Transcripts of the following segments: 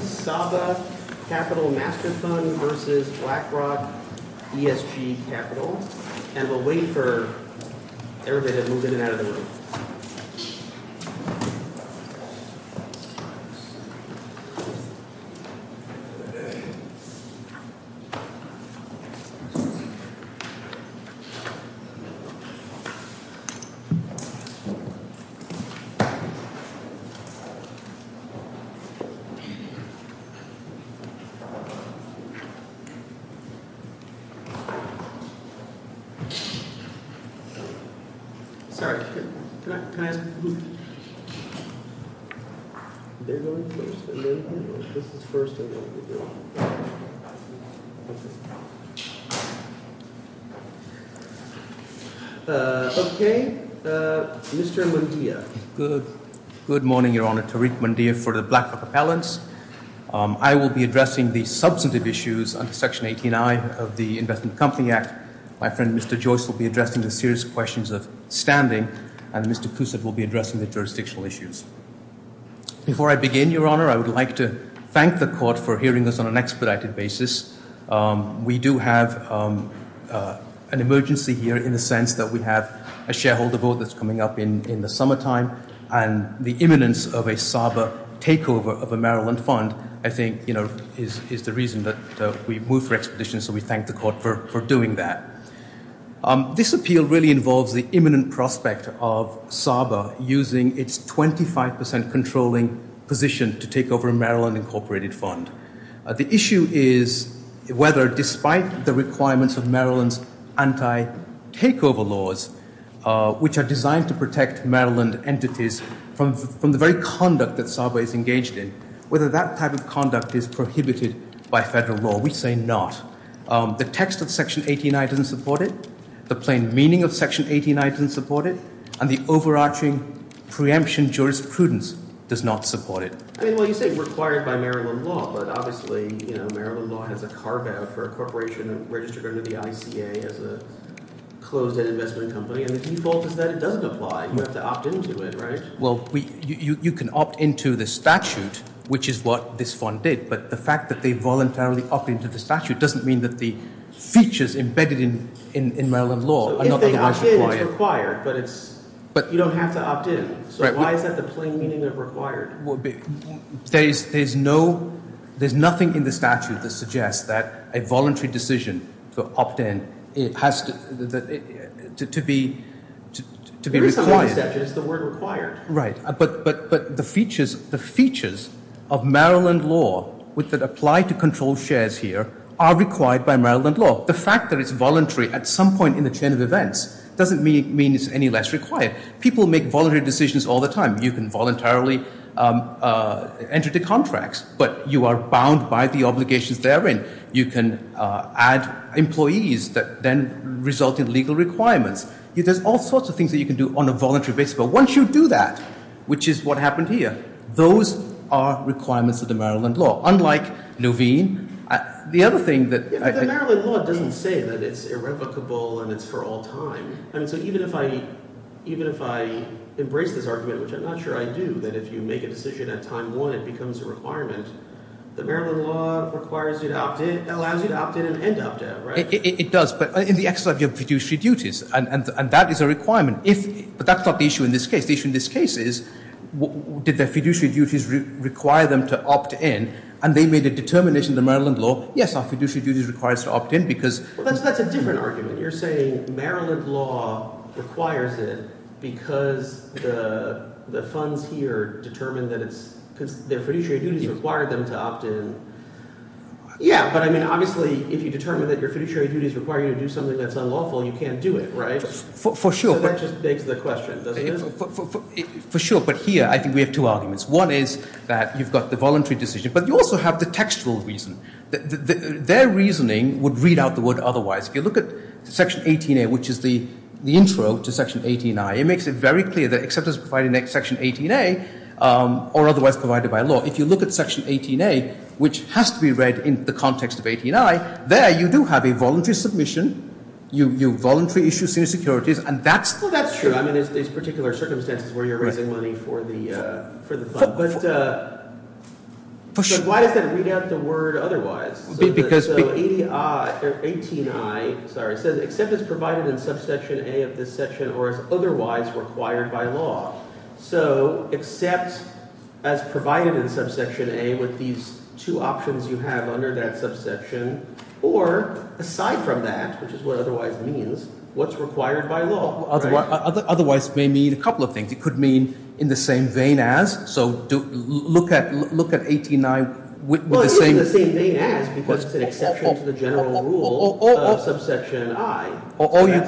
Saba Capital Master Fund v. BlackRock ESG Capital Saba Capital Master Fund, LTD. v. ClearBridge Energy Midstream Opportunity Fund, LTD. Good morning, Your Honor. Tariq Mandir for the BlackRock Appellants. I will be addressing the substantive issues under Section 18I of the Investment Company Act. My friend, Mr. Joyce, will be addressing the serious questions of standing, and Mr. Cousett will be addressing the jurisdictional issues. Before I begin, Your Honor, I would like to thank the Court for hearing us on an expedited basis. We do have an emergency here in the sense that we have a shareholder vote that's coming up in the summertime, and the imminence of a Saba takeover of a Maryland fund, I think, you know, is the reason that we moved for expeditions, so we thank the Court for doing that. This appeal really involves the imminent prospect of Saba using its 25% controlling position to take over a Maryland incorporated fund. The issue is whether, despite the requirements of Maryland's anti-takeover laws, which are designed to protect Maryland entities from the very conduct that Saba is engaged in, whether that type of conduct is prohibited by federal law. We say not. The text of Section 18I doesn't support it, the plain meaning of Section 18I doesn't support it, and the overarching preemption jurisprudence does not support it. I mean, well, you say required by Maryland law, but obviously, you know, Maryland law has a carve-out for a corporation registered under the ICA as a closed-end investment company, and the default is that it doesn't apply. You have to opt into it, right? Well, you can opt into the statute, which is what this fund did, but the fact that they voluntarily opt into the statute doesn't mean that the features embedded in Maryland law are not otherwise required. So if they opt in, it's required, but you don't have to opt in. So why is that the plain meaning of required? Well, there's nothing in the statute that suggests that a voluntary decision to opt in has to be required. There is something in the statute that says the word required. Right, but the features of Maryland law that apply to controlled shares here are required by Maryland law. The fact that it's voluntary at some point in the chain of events doesn't mean it's any less required. People make voluntary decisions all the time. You can voluntarily enter into contracts, but you are bound by the obligations therein. You can add employees that then result in legal requirements. There's all sorts of things that you can do on a voluntary basis, but once you do that, which is what happened here, those are requirements of the Maryland law, unlike Nuveen. The other thing that I— The Maryland law doesn't say that it's irrevocable and it's for all time. So even if I embrace this argument, which I'm not sure I do, that if you make a decision at time one, it becomes a requirement, the Maryland law requires you to opt in, allows you to opt in and end up there, right? It does, but in the exercise of your fiduciary duties, and that is a requirement. But that's not the issue in this case. The issue in this case is did the fiduciary duties require them to opt in, and they made a determination in the Maryland law, yes, our fiduciary duties require us to opt in because— But that's a different argument. You're saying Maryland law requires it because the funds here determine that it's—because their fiduciary duties require them to opt in. Yeah, but I mean obviously if you determine that your fiduciary duties require you to do something that's unlawful, you can't do it, right? For sure. So that just begs the question, doesn't it? For sure, but here I think we have two arguments. One is that you've got the voluntary decision, but you also have the textual reason. Their reasoning would read out the word otherwise. If you look at Section 18A, which is the intro to Section 18I, it makes it very clear that except as provided in Section 18A, or otherwise provided by law, if you look at Section 18A, which has to be read in the context of 18I, there you do have a voluntary submission. You voluntarily issue senior securities, and that's true. Well, that's true. I mean there's particular circumstances where you're raising money for the fund. But why does that read out the word otherwise? So 18I says except as provided in Subsection A of this section or as otherwise required by law. So except as provided in Subsection A with these two options you have under that subsection, or aside from that, which is what otherwise means, what's required by law, right? Otherwise may mean a couple of things. It could mean in the same vein as. So look at 18I with the same- Well, it's in the same vein as because it's an exception to the general rule of Subsection I. Or you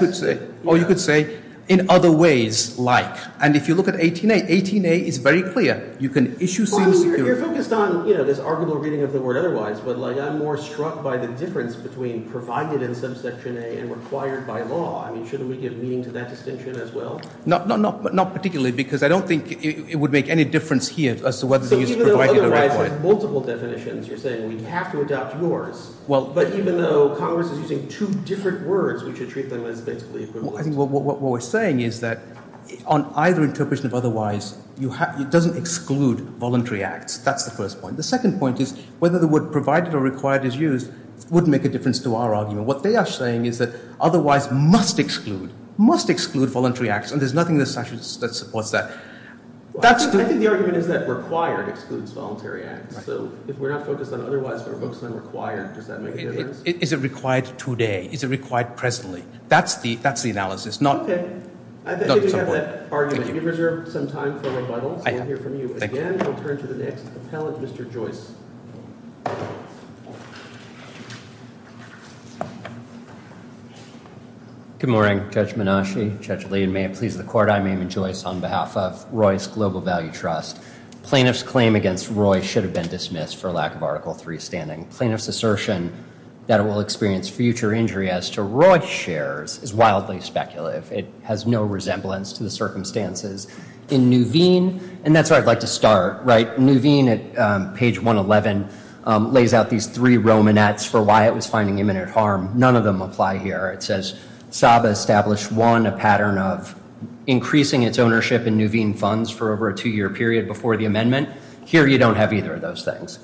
could say in other ways like. And if you look at 18A, 18A is very clear. You can issue senior securities. You're focused on this arguable reading of the word otherwise, but I'm more struck by the difference between provided in Subsection A and required by law. I mean shouldn't we give meaning to that distinction as well? Not particularly because I don't think it would make any difference here as to whether the use of provided or required. So even though otherwise has multiple definitions, you're saying we have to adopt yours, but even though Congress is using two different words, we should treat them as basically equivalent. I think what we're saying is that on either interpretation of otherwise, it doesn't exclude voluntary acts. That's the first point. The second point is whether the word provided or required is used would make a difference to our argument. What they are saying is that otherwise must exclude, must exclude voluntary acts. And there's nothing in the statute that supports that. I think the argument is that required excludes voluntary acts. So if we're not focused on otherwise, we're focused on required. Does that make a difference? Is it required today? Is it required presently? That's the analysis. Okay. I think we have that argument. You've reserved some time for rebuttal, so we'll hear from you. Again, we'll turn to the next appellate, Mr. Joyce. Good morning. Judge Menasche, Judge Lee, and may it please the Court, I'm Eamon Joyce on behalf of Roy's Global Value Trust. Plaintiff's claim against Roy should have been dismissed for lack of Article III standing. Plaintiff's assertion that it will experience future injury as to Roy's shares is wildly speculative. It has no resemblance to the circumstances. In Nuveen, and that's where I'd like to start, right? for why it was finding imminent harm. None of them apply here. It says, SABA established, one, a pattern of increasing its ownership in Nuveen funds for over a two-year period before the amendment. Here, you don't have either of those things.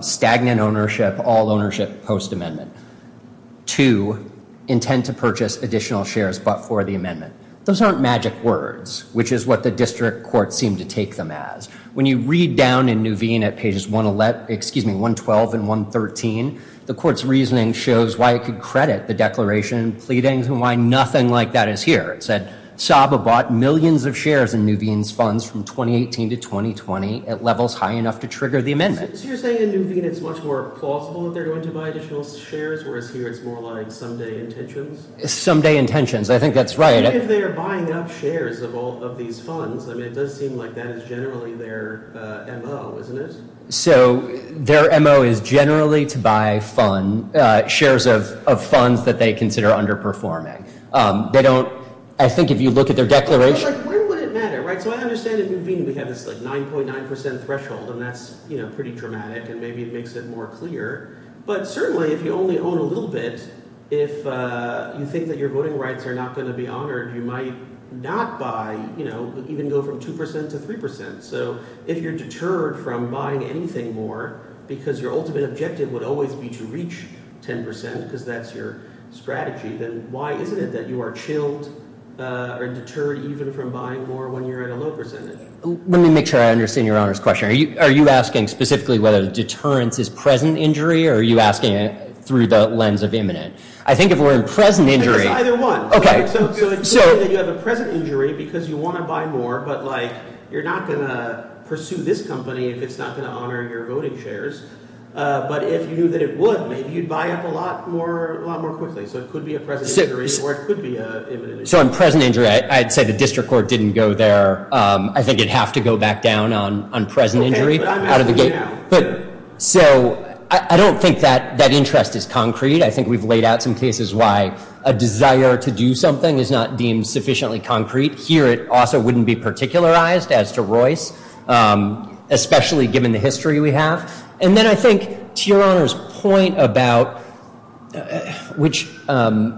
Stagnant ownership, all ownership, post-amendment. Two, intend to purchase additional shares but for the amendment. Those aren't magic words, which is what the district court seemed to take them as. When you read down in Nuveen at pages 112 and 113, the court's reasoning shows why it could credit the declaration and pleadings and why nothing like that is here. It said, SABA bought millions of shares in Nuveen's funds from 2018 to 2020 at levels high enough to trigger the amendment. So you're saying in Nuveen it's much more plausible that they're going to buy additional shares, whereas here it's more like someday intentions? Someday intentions, I think that's right. Even if they're buying up shares of these funds, it does seem like that is generally their MO, isn't it? So their MO is generally to buy shares of funds that they consider underperforming. They don't, I think if you look at their declaration. Where would it matter, right? So I understand in Nuveen we have this 9.9% threshold, and that's pretty dramatic, and maybe it makes it more clear. But certainly if you only own a little bit, if you think that your voting rights are not going to be honored, you might not buy, even go from 2% to 3%. So if you're deterred from buying anything more because your ultimate objective would always be to reach 10% because that's your strategy, then why isn't it that you are chilled or deterred even from buying more when you're at a low percentage? Let me make sure I understand your honors question. Are you asking specifically whether deterrence is present injury, or are you asking it through the lens of imminent? I think if we're in present injury. It's either one. So you have a present injury because you want to buy more, but you're not going to pursue this company if it's not going to honor your voting shares. But if you knew that it would, maybe you'd buy up a lot more quickly. So it could be a present injury, or it could be an imminent injury. So in present injury, I'd say the district court didn't go there. I think it'd have to go back down on present injury out of the gate. So I don't think that interest is concrete. I think we've laid out some cases why a desire to do something is not deemed sufficiently concrete. Here, it also wouldn't be particularized as to Royce, especially given the history we have. And then I think to your honors point about which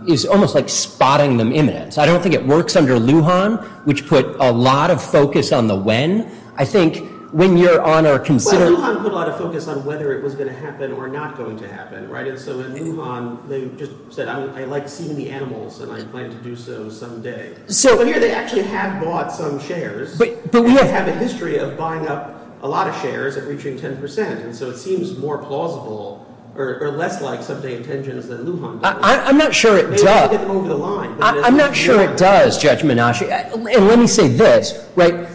is almost like spotting them imminent. I don't think it works under Lujan, which put a lot of focus on the when. I think when you're on our considered Lujan put a lot of focus on whether it was going to happen or not going to happen, right? And so in Lujan, they just said, I like seeing the animals, and I plan to do so someday. So here, they actually have bought some shares. But we have a history of buying up a lot of shares and reaching 10%. And so it seems more plausible or less like someday intentions than Lujan. I'm not sure it does. I'm not sure it does, Judge Menashe. And let me say this, right?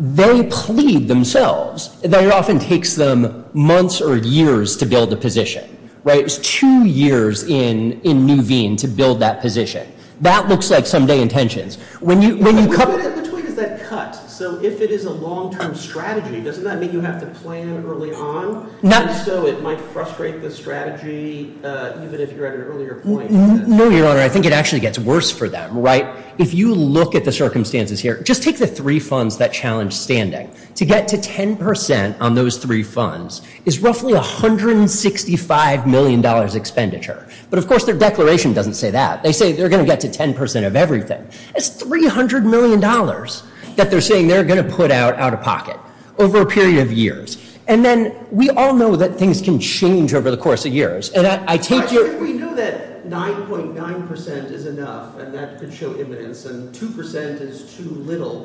They plead themselves. It often takes them months or years to build a position, right? It was two years in Nuveen to build that position. That looks like someday intentions. When you come in between, is that cut? So if it is a long term strategy, doesn't that mean you have to plan early on? And so it might frustrate the strategy, even if you're at an earlier point. No, Your Honor. I think it actually gets worse for them, right? If you look at the circumstances here, just take the three funds that challenge standing. To get to 10% on those three funds is roughly $165 million expenditure. But of course, their declaration doesn't say that. They say they're going to get to 10% of everything. It's $300 million that they're saying they're going to put out out of pocket over a period of years. And then we all know that things can change over the course of years. And I take your— If we knew that 9.9% is enough and that could show evidence and 2% is too little,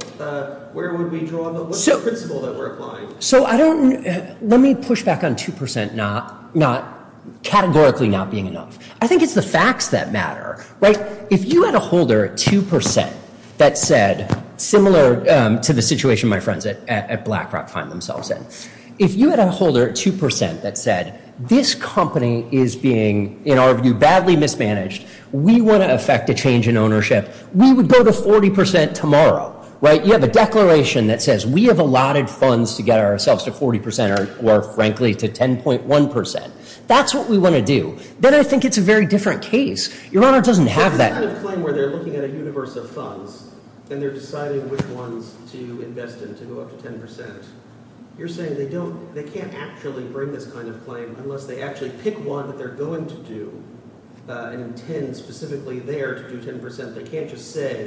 where would we draw the—what's the principle that we're applying? So I don't—let me push back on 2% not—categorically not being enough. I think it's the facts that matter, right? If you had a holder at 2% that said—similar to the situation my friends at BlackRock find themselves in. If you had a holder at 2% that said, this company is being, in our view, badly mismanaged. We want to effect a change in ownership. We would go to 40% tomorrow, right? You have a declaration that says we have allotted funds to get ourselves to 40% or, frankly, to 10.1%. That's what we want to do. Then I think it's a very different case. Your Honor, it doesn't have that— If you have a claim where they're looking at a universe of funds and they're deciding which ones to invest in to go up to 10%, you're saying they don't—they can't actually bring this kind of claim unless they actually pick one that they're going to do and intend specifically there to do 10%. They can't just say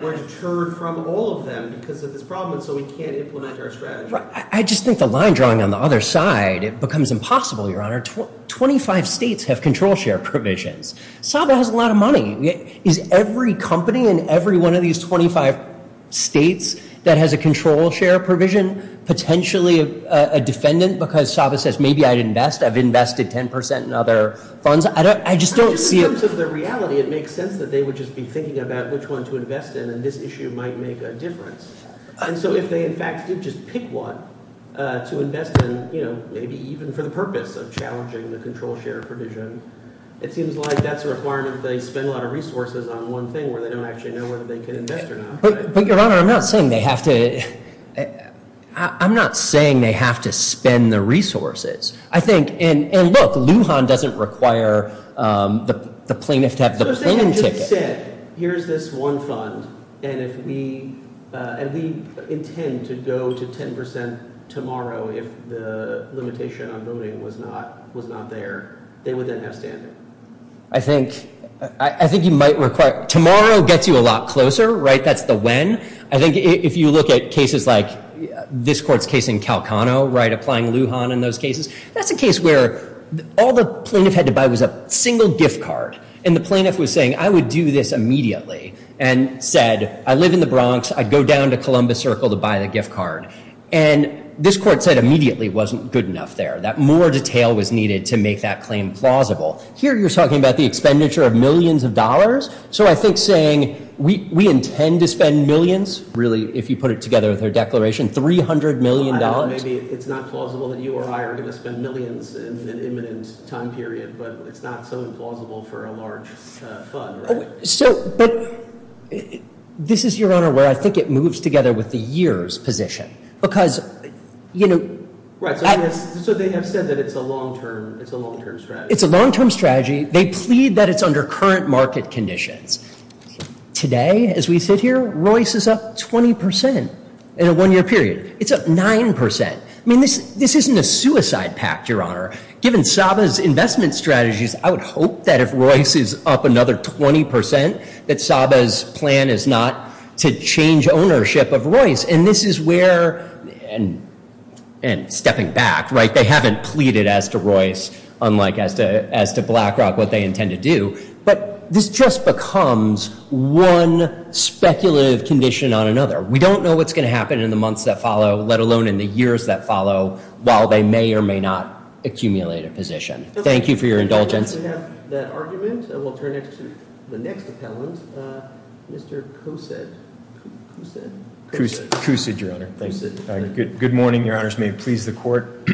we're deterred from all of them because of this problem and so we can't implement our strategy. I just think the line drawing on the other side, it becomes impossible, Your Honor. Twenty-five states have control share provisions. Saba has a lot of money. Is every company in every one of these 25 states that has a control share provision potentially a defendant because Saba says maybe I'd invest, I've invested 10% in other funds? I just don't see it— In terms of the reality, it makes sense that they would just be thinking about which one to invest in and this issue might make a difference. And so if they in fact did just pick one to invest in, you know, maybe even for the purpose of challenging the control share provision, it seems like that's a requirement that they spend a lot of resources on one thing where they don't actually know whether they can invest or not. But, Your Honor, I'm not saying they have to—I'm not saying they have to spend the resources. I think—and look, Lujan doesn't require the plaintiff to have the planning ticket. They said, here's this one fund, and if we—and we intend to go to 10% tomorrow if the limitation on voting was not there, they would then have standing. I think you might require—tomorrow gets you a lot closer, right? That's the when. I think if you look at cases like this court's case in Calcano, right, applying Lujan in those cases, that's a case where all the plaintiff had to buy was a single gift card, and the plaintiff was saying, I would do this immediately, and said, I live in the Bronx. I'd go down to Columbus Circle to buy the gift card. And this court said immediately it wasn't good enough there, that more detail was needed to make that claim plausible. Here you're talking about the expenditure of millions of dollars. So I think saying, we intend to spend millions, really, if you put it together with her declaration, $300 million. Maybe it's not plausible that you or I are going to spend millions in an imminent time period, but it's not so implausible for a large fund, right? So, but this is, Your Honor, where I think it moves together with the year's position. Because, you know— Right, so they have said that it's a long-term strategy. It's a long-term strategy. They plead that it's under current market conditions. Today, as we sit here, Royce is up 20% in a one-year period. It's up 9%. I mean, this isn't a suicide pact, Your Honor. Given Saba's investment strategies, I would hope that if Royce is up another 20%, that Saba's plan is not to change ownership of Royce. And this is where—and stepping back, right? They haven't pleaded as to Royce, unlike as to BlackRock, what they intend to do. But this just becomes one speculative condition on another. We don't know what's going to happen in the months that follow, let alone in the years that follow, while they may or may not accumulate a position. Thank you for your indulgence. We have that argument, and we'll turn it to the next appellant, Mr. Cousett. Cousett? Cousett, Your Honor. Good morning, Your Honors. May it please the Court.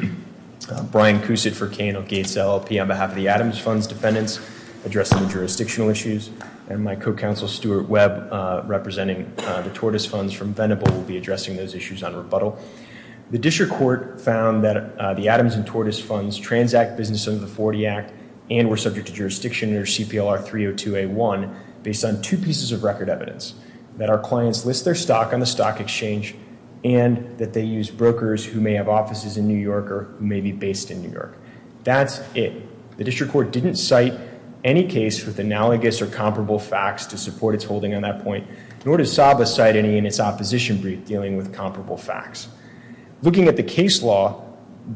Brian Cousett for K&L Gates LLP on behalf of the Adams Fund's defendants, addressing the jurisdictional issues, and my co-counsel, Stuart Webb, representing the Tortoise Funds from Venable, will be addressing those issues on rebuttal. The district court found that the Adams and Tortoise Funds transact business under the 40 Act and were subject to jurisdiction under CPLR 302A1 based on two pieces of record evidence, that our clients list their stock on the stock exchange and that they use brokers who may have offices in New York or may be based in New York. That's it. The district court didn't cite any case with analogous or comparable facts to support its holding on that point, nor does SABA cite any in its opposition brief dealing with comparable facts. Looking at the case law,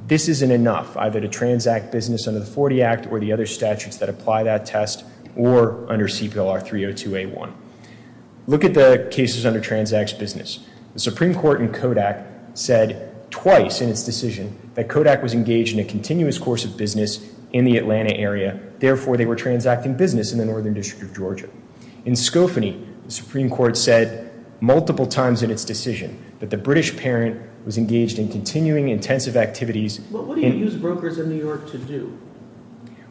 this isn't enough, either to transact business under the 40 Act or the other statutes that apply that test or under CPLR 302A1. Look at the cases under transacts business. The Supreme Court in Kodak said twice in its decision that Kodak was engaged in a continuous course of business in the Atlanta area. Therefore, they were transacting business in the northern district of Georgia. In Skofany, the Supreme Court said multiple times in its decision that the British parent was engaged in continuing intensive activities. What do you use brokers in New York to do?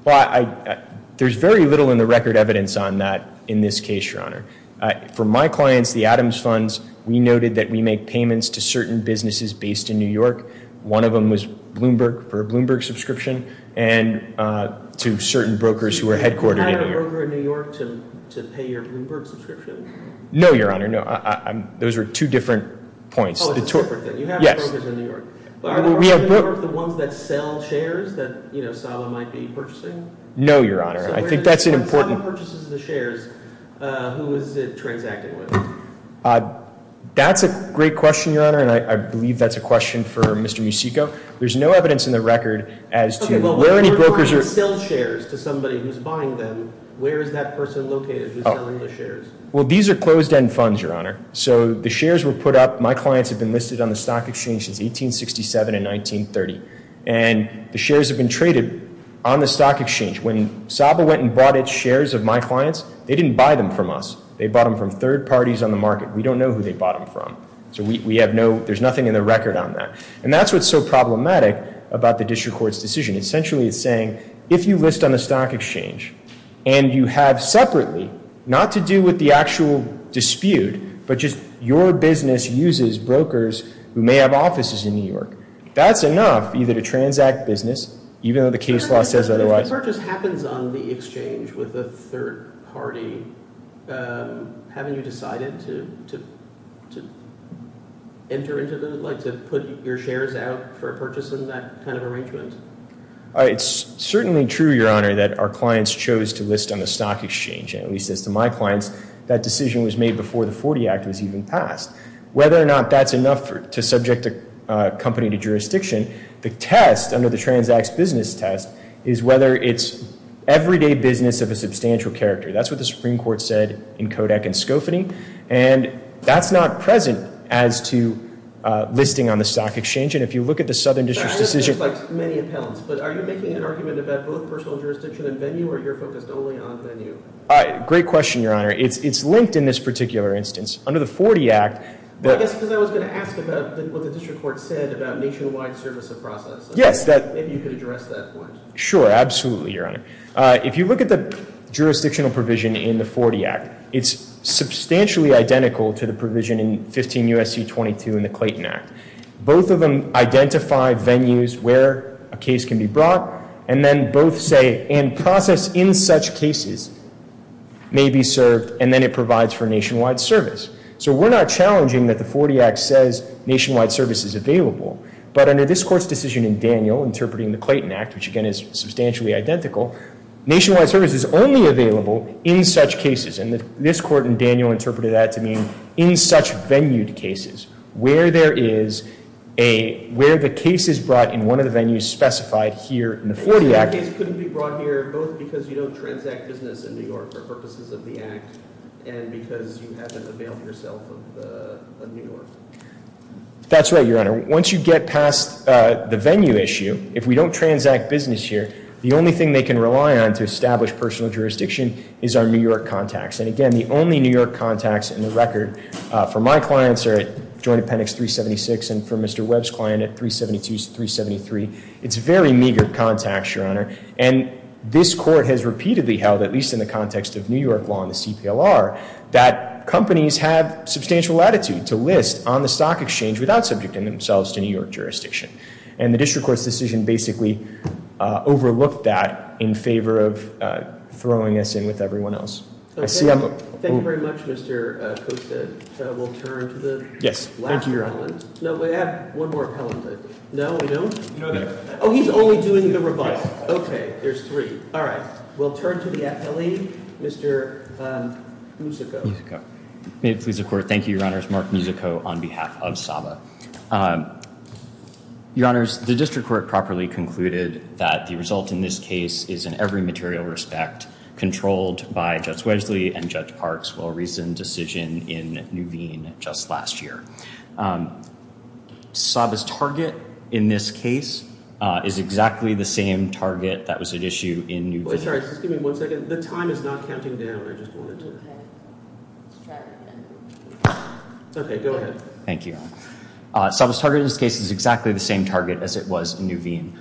Well, there's very little in the record evidence on that in this case, Your Honor. For my clients, the Adams Funds, we noted that we make payments to certain businesses based in New York. One of them was Bloomberg for a Bloomberg subscription and to certain brokers who are headquartered in New York. Do you have a broker in New York to pay your Bloomberg subscription? No, Your Honor, no. Those are two different points. Oh, it's a separate thing. You have brokers in New York. Are the ones in New York the ones that sell shares that SABA might be purchasing? No, Your Honor. I think that's an important— If SABA purchases the shares, who is it transacting with? That's a great question, Your Honor, and I believe that's a question for Mr. Musico. There's no evidence in the record as to where any brokers are— Okay, but when you're going to sell shares to somebody who's buying them, where is that person located who's selling the shares? Well, these are closed-end funds, Your Honor. So the shares were put up—my clients have been listed on the Stock Exchange since 1867 and 1930. And the shares have been traded on the Stock Exchange. When SABA went and bought its shares of my clients, they didn't buy them from us. They bought them from third parties on the market. We don't know who they bought them from, so we have no—there's nothing in the record on that. And that's what's so problematic about the district court's decision. Essentially, it's saying if you list on the Stock Exchange and you have separately, not to do with the actual dispute, but just your business uses brokers who may have offices in New York, that's enough either to transact business, even though the case law says otherwise. If a purchase happens on the exchange with a third party, haven't you decided to put your shares out for a purchase in that kind of arrangement? It's certainly true, Your Honor, that our clients chose to list on the Stock Exchange. At least as to my clients, that decision was made before the Forty Act was even passed. Whether or not that's enough to subject a company to jurisdiction, the test under the Transacts Business Test is whether it's everyday business of a substantial character. That's what the Supreme Court said in Kodak and Skofany, and that's not present as to listing on the Stock Exchange. And if you look at the Southern District's decision— That list looks like many appellants, but are you making an argument about both personal jurisdiction and venue, or you're focused only on venue? Great question, Your Honor. It's linked in this particular instance. Under the Forty Act— I guess because I was going to ask about what the district court said about nationwide service of process. Yes, that— Maybe you could address that point. Sure, absolutely, Your Honor. If you look at the jurisdictional provision in the Forty Act, it's substantially identical to the provision in 15 U.S.C. 22 in the Clayton Act. Both of them identify venues where a case can be brought, and then both say, and process in such cases may be served, and then it provides for nationwide service. So we're not challenging that the Forty Act says nationwide service is available, but under this court's decision in Daniel, interpreting the Clayton Act, which again is substantially identical, nationwide service is only available in such cases, and this court in Daniel interpreted that to mean in such venued cases, where there is a—where the case is brought in one of the venues specified here in the Forty Act— So the case couldn't be brought here both because you don't transact business in New York for purposes of the Act and because you haven't availed yourself of New York? That's right, Your Honor. Once you get past the venue issue, if we don't transact business here, the only thing they can rely on to establish personal jurisdiction is our New York contacts. And again, the only New York contacts in the record for my clients are at Joint Appendix 376 and for Mr. Webb's client at 372 to 373. It's very meager contacts, Your Honor, and this court has repeatedly held, at least in the context of New York law and the CPLR, that companies have substantial latitude to list on the stock exchange without subjecting themselves to New York jurisdiction. And the district court's decision basically overlooked that in favor of throwing us in with everyone else. I see— Thank you very much, Mr. Costa. We'll turn to the last comment. Yes, thank you, Your Honor. No, we have one more comment. No, we don't? Oh, he's only doing the rebuttal. Okay, there's three. All right. We'll turn to the affiliate, Mr. Musico. May it please the Court. Thank you, Your Honors. Mark Musico on behalf of SABA. Your Honors, the district court properly concluded that the result in this case is in every material respect controlled by Judge Wedgley and Judge Parks' well-reasoned decision in Nuveen just last year. SABA's target in this case is exactly the same target that was at issue in Nuveen. Wait, sorry. Just give me one second. The time is not counting down. I just wanted to— Okay. Let's try that again. Okay, go ahead. Thank you, Your Honor. SABA's target in this case is exactly the same target as it was in Nuveen.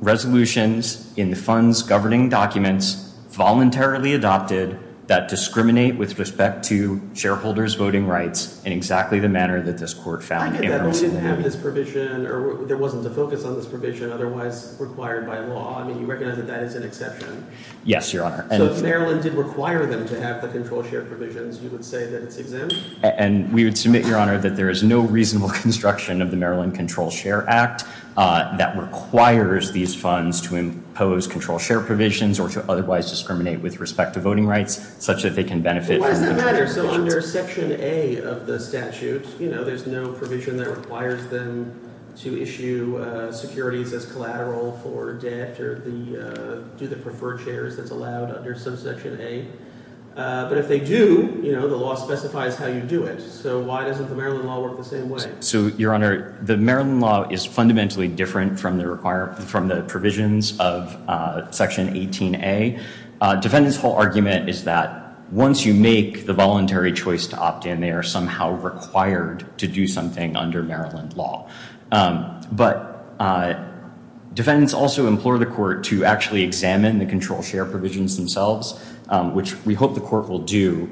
Resolutions in the funds governing documents voluntarily adopted that discriminate with respect to shareholders' voting rights in exactly the manner that this Court found— I get that. We didn't have this provision, or there wasn't a focus on this provision otherwise required by law. I mean, you recognize that that is an exception. Yes, Your Honor. So if Maryland did require them to have the control share provisions, you would say that it's exempt? And we would submit, Your Honor, that there is no reasonable construction of the Maryland Control Share Act that requires these funds to impose control share provisions or to otherwise discriminate with respect to voting rights such that they can benefit from the control share provisions. Why does that matter? So under Section A of the statute, you know, there's no provision that requires them to issue securities as collateral for debt or do the preferred shares that's allowed under subsection A. But if they do, you know, the law specifies how you do it. So why doesn't the Maryland law work the same way? So, Your Honor, the Maryland law is fundamentally different from the provisions of Section 18A. Defendants' whole argument is that once you make the voluntary choice to opt in, they are somehow required to do something under Maryland law. But defendants also implore the Court to actually examine the control share provisions themselves, which we hope the Court will do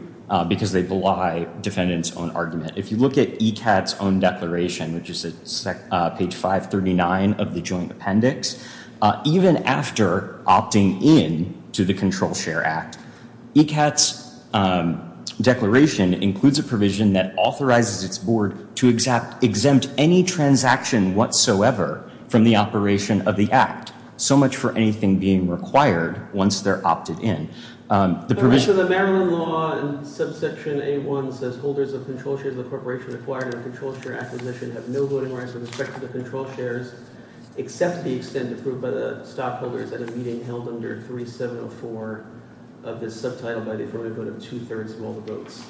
because they belie defendants' own argument. If you look at ECAT's own declaration, which is at page 539 of the joint appendix, even after opting in to the Control Share Act, ECAT's declaration includes a provision that authorizes its board to exempt any transaction whatsoever from the operation of the act, so much for anything being required once they're opted in. The provision of the Maryland law in subsection A1 says holders of control shares of the corporation acquired under the Control Share Act admission have no voting rights with respect to the control shares except the extent approved by the stockholders at a meeting held under 3704 of this subtitle by the affirmative vote of two-thirds of all the votes.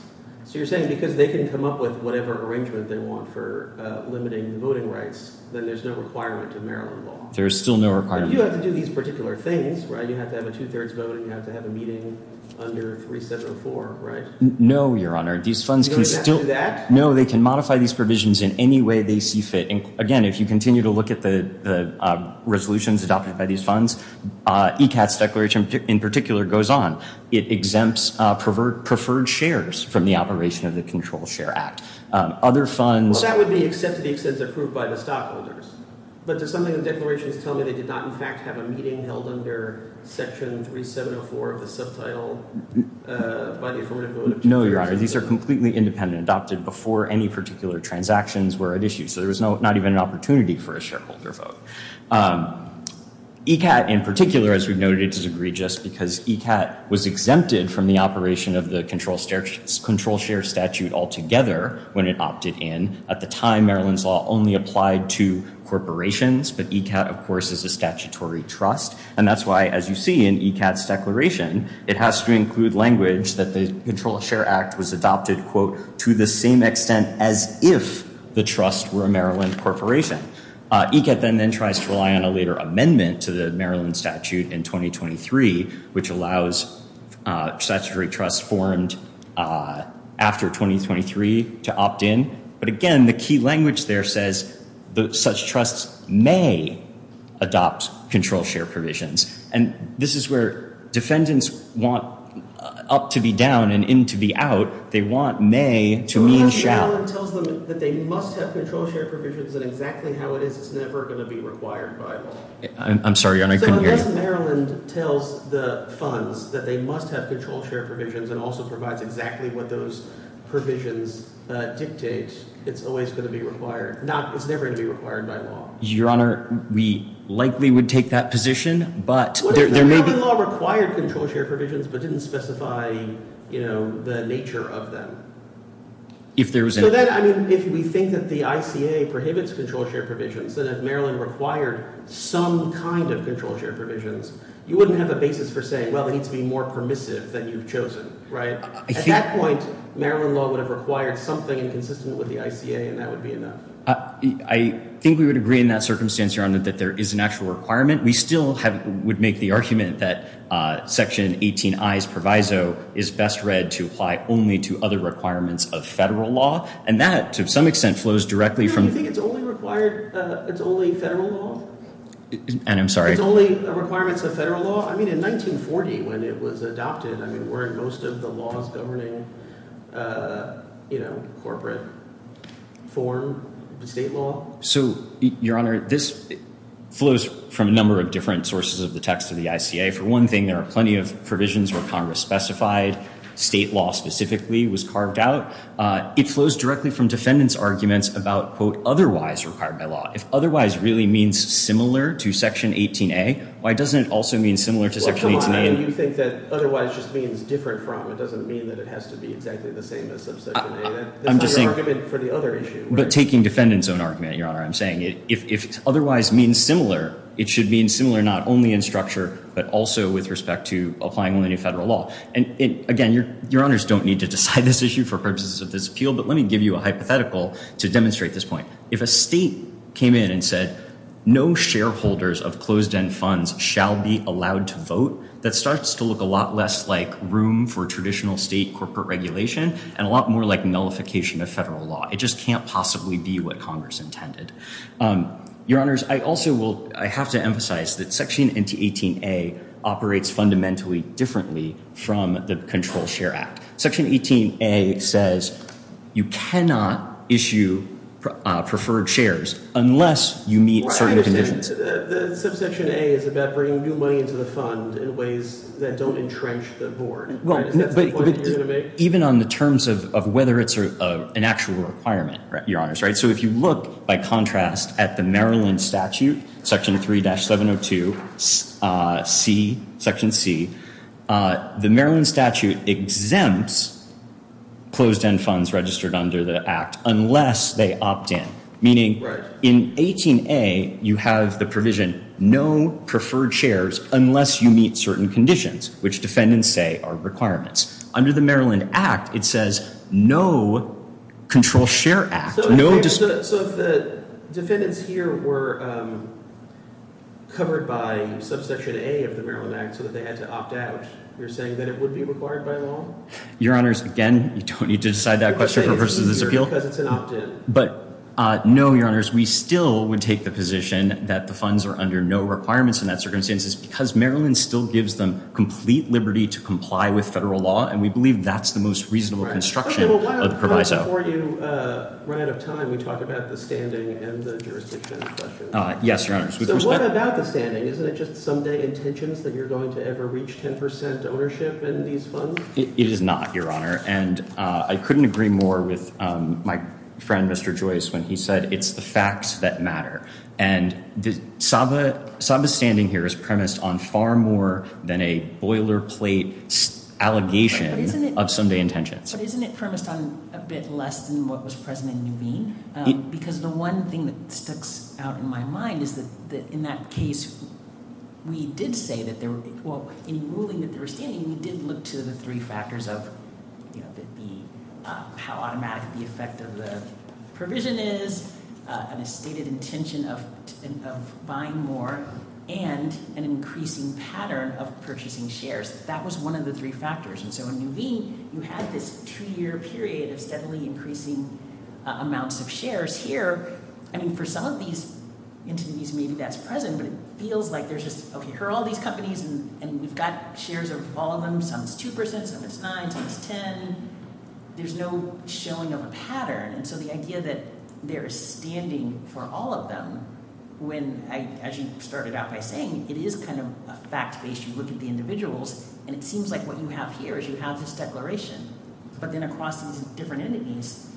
So you're saying because they can come up with whatever arrangement they want for limiting the voting rights, then there's no requirement to Maryland law. There is still no requirement. You do have to do these particular things, right? You have to have a two-thirds vote and you have to have a meeting under 3704, right? No, Your Honor. These funds can still— You don't even have to do that? No, they can modify these provisions in any way they see fit. Again, if you continue to look at the resolutions adopted by these funds, ECAT's declaration in particular goes on. It exempts preferred shares from the operation of the Control Share Act. Other funds— Well, that would be except to the extent approved by the stockholders. But does something in the declarations tell me they did not, in fact, have a meeting held under Section 3704 of the subtitle by the affirmative vote of two-thirds? No, Your Honor. These are completely independent, adopted before any particular transactions were at issue. So there was not even an opportunity for a shareholder vote. ECAT, in particular, as we've noted, is egregious because ECAT was exempted from the operation of the control share statute altogether when it opted in. At the time, Maryland's law only applied to corporations. But ECAT, of course, is a statutory trust. And that's why, as you see in ECAT's declaration, it has to include language that the Control Share Act was adopted, quote, to the same extent as if the trust were a Maryland corporation. ECAT then tries to rely on a later amendment to the Maryland statute in 2023, which allows statutory trusts formed after 2023 to opt in. But, again, the key language there says such trusts may adopt control share provisions. And this is where defendants want up to be down and in to be out. They want may to mean shall. Unless Maryland tells them that they must have control share provisions, then exactly how it is, it's never going to be required by law. I'm sorry, Your Honor, I couldn't hear you. So unless Maryland tells the funds that they must have control share provisions and also provides exactly what those provisions dictate, it's always going to be required. It's never going to be required by law. Your Honor, we likely would take that position, but there may be – What if Maryland law required control share provisions but didn't specify the nature of them? If there was – So then, I mean, if we think that the ICA prohibits control share provisions, that if Maryland required some kind of control share provisions, you wouldn't have a basis for saying, well, it needs to be more permissive than you've chosen, right? At that point, Maryland law would have required something consistent with the ICA, and that would be enough. I think we would agree in that circumstance, Your Honor, that there is an actual requirement. We still would make the argument that Section 18I's proviso is best read to apply only to other requirements of federal law. And that, to some extent, flows directly from – Your Honor, you think it's only required – it's only federal law? And I'm sorry. It's only requirements of federal law? I mean, in 1940, when it was adopted, I mean, weren't most of the laws governing, you know, corporate form, state law? So, Your Honor, this flows from a number of different sources of the text of the ICA. For one thing, there are plenty of provisions where Congress specified state law specifically was carved out. It flows directly from defendants' arguments about, quote, otherwise required by law. If otherwise really means similar to Section 18A, why doesn't it also mean similar to Section 18A? Well, come on. You think that otherwise just means different from. It doesn't mean that it has to be exactly the same as subsection A. I'm just saying – That's not your argument for the other issue. But taking defendants' own argument, Your Honor, I'm saying if otherwise means similar, it should mean similar not only in structure but also with respect to applying only to federal law. And, again, Your Honors don't need to decide this issue for purposes of this appeal, but let me give you a hypothetical to demonstrate this point. If a state came in and said no shareholders of closed-end funds shall be allowed to vote, that starts to look a lot less like room for traditional state corporate regulation and a lot more like nullification of federal law. It just can't possibly be what Congress intended. Your Honors, I also will – I have to emphasize that Section 18A operates fundamentally differently from the Controlled Share Act. Section 18A says you cannot issue preferred shares unless you meet certain conditions. I understand. Subsection A is about bringing new money into the fund in ways that don't entrench the board. Is that the point you're going to make? Even on the terms of whether it's an actual requirement, Your Honors. So if you look, by contrast, at the Maryland Statute, Section 3-702C, Section C, the Maryland Statute exempts closed-end funds registered under the Act unless they opt in, meaning in 18A you have the provision no preferred shares unless you meet certain conditions, which defendants say are requirements. Under the Maryland Act, it says no Controlled Share Act. So if the defendants here were covered by Subsection A of the Maryland Act so that they had to opt out, you're saying that it would be required by law? Your Honors, again, you don't need to decide that question for purposes of this appeal. Because it's an opt-in. But no, Your Honors. We still would take the position that the funds are under no requirements in that circumstance is because Maryland still gives them complete liberty to comply with federal law, and we believe that's the most reasonable construction of the proviso. Before you run out of time, we talked about the standing and the jurisdiction question. Yes, Your Honors. So what about the standing? Isn't it just someday intentions that you're going to ever reach 10 percent ownership in these funds? It is not, Your Honor. And I couldn't agree more with my friend, Mr. Joyce, when he said it's the facts that matter. And Saba's standing here is premised on far more than a boilerplate allegation of someday intentions. But isn't it premised on a bit less than what was present in Nuveen? Because the one thing that sticks out in my mind is that in that case, we did say that there were – well, in ruling that they were standing, we did look to the three factors of, you know, how automatic the effect of the provision is, and the stated intention of buying more, and an increasing pattern of purchasing shares. That was one of the three factors. And so in Nuveen, you had this two-year period of steadily increasing amounts of shares. Here, I mean, for some of these entities, maybe that's present, but it feels like there's just, okay, here are all these companies, and we've got shares of all of them. Some it's 2 percent, some it's 9, some it's 10. There's no showing of a pattern. And so the idea that there is standing for all of them when, as you started out by saying, it is kind of a fact-based – you look at the individuals, and it seems like what you have here is you have this declaration. But then across these different entities,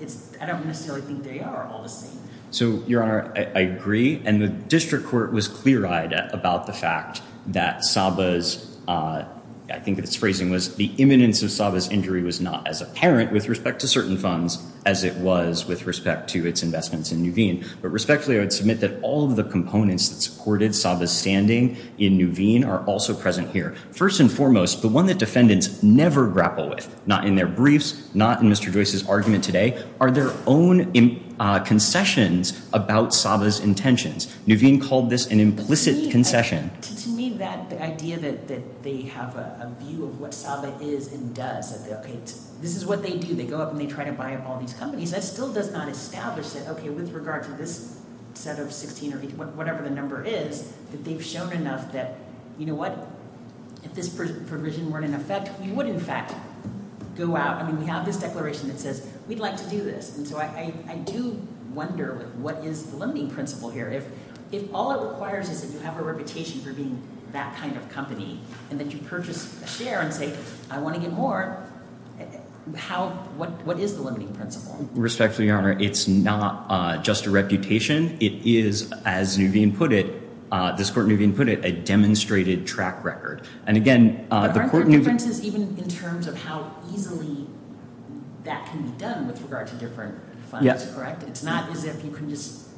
it's – I don't necessarily think they are all the same. So, Your Honor, I agree. And the district court was clear-eyed about the fact that Saba's – I think its phrasing was, the imminence of Saba's injury was not as apparent with respect to certain funds as it was with respect to its investments in Nuveen. But respectfully, I would submit that all of the components that supported Saba's standing in Nuveen are also present here. First and foremost, the one that defendants never grapple with, not in their briefs, not in Mr. Joyce's argument today, are their own concessions about Saba's intentions. Nuveen called this an implicit concession. To me, that idea that they have a view of what Saba is and does, that, okay, this is what they do. They go up and they try to buy up all these companies. That still does not establish that, okay, with regard to this set of 16 or whatever the number is, that they've shown enough that, you know what, if this provision weren't in effect, we would, in fact, go out. I mean, we have this declaration that says we'd like to do this. And so I do wonder what is the limiting principle here. If all it requires is that you have a reputation for being that kind of company and that you purchase a share and say, I want to get more, how, what is the limiting principle? Respectfully, Your Honor, it's not just a reputation. It is, as Nuveen put it, this Court Nuveen put it, a demonstrated track record. Aren't there differences even in terms of how easily that can be done with regard to different funds, correct? It's not as if you can just,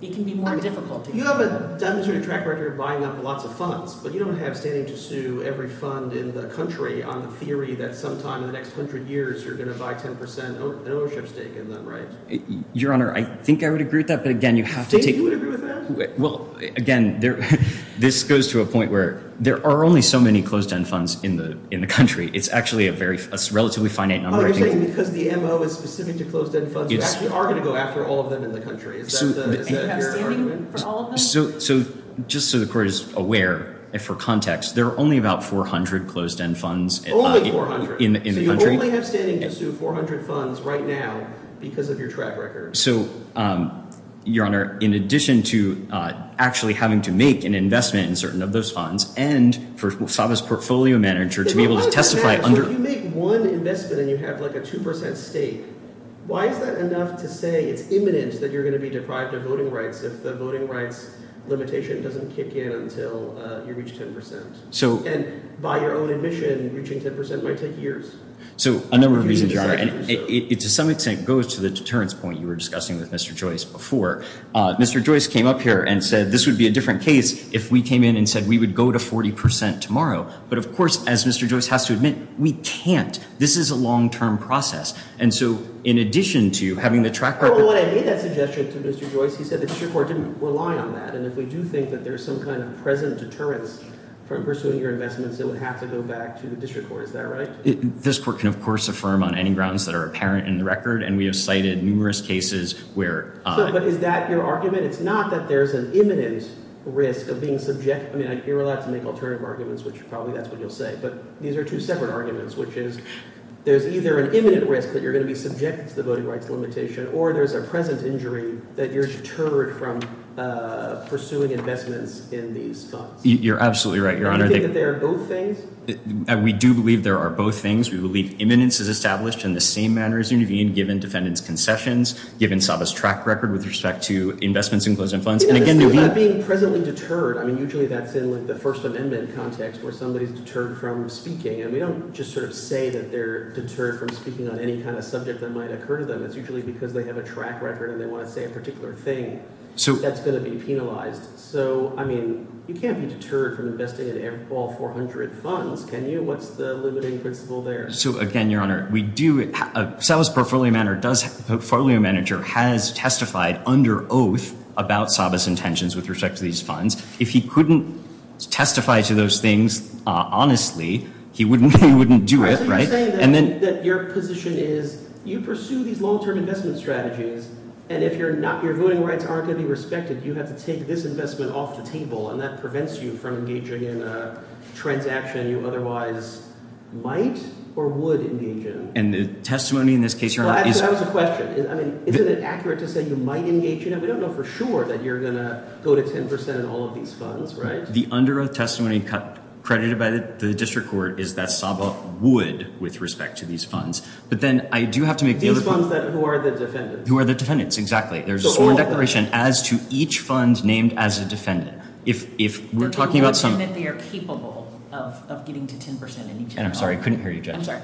it can be more difficult. You have a demonstrated track record of buying up lots of funds, but you don't have standing to sue every fund in the country on the theory that sometime in the next hundred years you're going to buy 10 percent in ownership stake in them, right? Your Honor, I think I would agree with that, but, again, you have to take You think you would agree with that? Well, again, this goes to a point where there are only so many closed-end funds in the country. It's actually a relatively finite number. Oh, you're saying because the MO is specific to closed-end funds, we are going to go after all of them in the country. Is that your argument for all of them? So just so the Court is aware, for context, there are only about 400 closed-end funds in the country. Only 400? So you only have standing to sue 400 funds right now because of your track record. So, Your Honor, in addition to actually having to make an investment in certain of those funds and for SAVA's portfolio manager to be able to testify under If you make one investment and you have like a 2 percent stake, why is that enough to say it's imminent that you're going to be deprived of voting rights if the voting rights limitation doesn't kick in until you reach 10 percent? And by your own admission, reaching 10 percent might take years. So a number of reasons, Your Honor, and it to some extent goes to the deterrence point you were discussing with Mr. Joyce before. Mr. Joyce came up here and said this would be a different case if we came in and said we would go to 40 percent tomorrow. But, of course, as Mr. Joyce has to admit, we can't. This is a long-term process. And so in addition to having the track record Well, when I made that suggestion to Mr. Joyce, he said the District Court didn't rely on that. And if we do think that there's some kind of present deterrence from pursuing your investments, it would have to go back to the District Court. Is that right? This court can, of course, affirm on any grounds that are apparent in the record, and we have cited numerous cases where But is that your argument? It's not that there's an imminent risk of being subject I mean, you're allowed to make alternative arguments, which probably that's what you'll say, but these are two separate arguments, which is there's either an imminent risk that you're going to be subjected to the voting rights limitation or there's a present injury that you're deterred from pursuing investments in these funds. You're absolutely right, Your Honor. Do you think that they are both things? We do believe there are both things. We believe imminence is established in the same manner as Nuveen, given defendant's concessions, given Saba's track record with respect to investments in closing funds. And again, Nuveen Being presently deterred, I mean, usually that's in the First Amendment context where somebody's deterred from speaking. And we don't just sort of say that they're deterred from speaking on any kind of subject that might occur to them. It's usually because they have a track record and they want to say a particular thing. So that's going to be penalized. So, I mean, you can't be deterred from investing in all 400 funds, can you? What's the limiting principle there? So again, Your Honor, we do Saba's portfolio manager has testified under oath about Saba's intentions with respect to these funds. If he couldn't testify to those things honestly, he wouldn't do it, right? I think you're saying that your position is you pursue these long-term investment strategies and if your voting rights aren't going to be respected, you have to take this investment off the table and that prevents you from engaging in a transaction you otherwise might or would engage in. And the testimony in this case, Your Honor, is Well, that was a question. I mean, isn't it accurate to say you might engage in it? We don't know for sure that you're going to go to 10 percent in all of these funds, right? The under oath testimony credited by the district court is that Saba would with respect to these funds. But then I do have to make the other These funds that, who are the defendants? Who are the defendants, exactly. There's a sworn declaration as to each fund named as a defendant. If we're talking about some That they are capable of getting to 10 percent in each fund. And I'm sorry, I couldn't hear you, Judge. I'm sorry.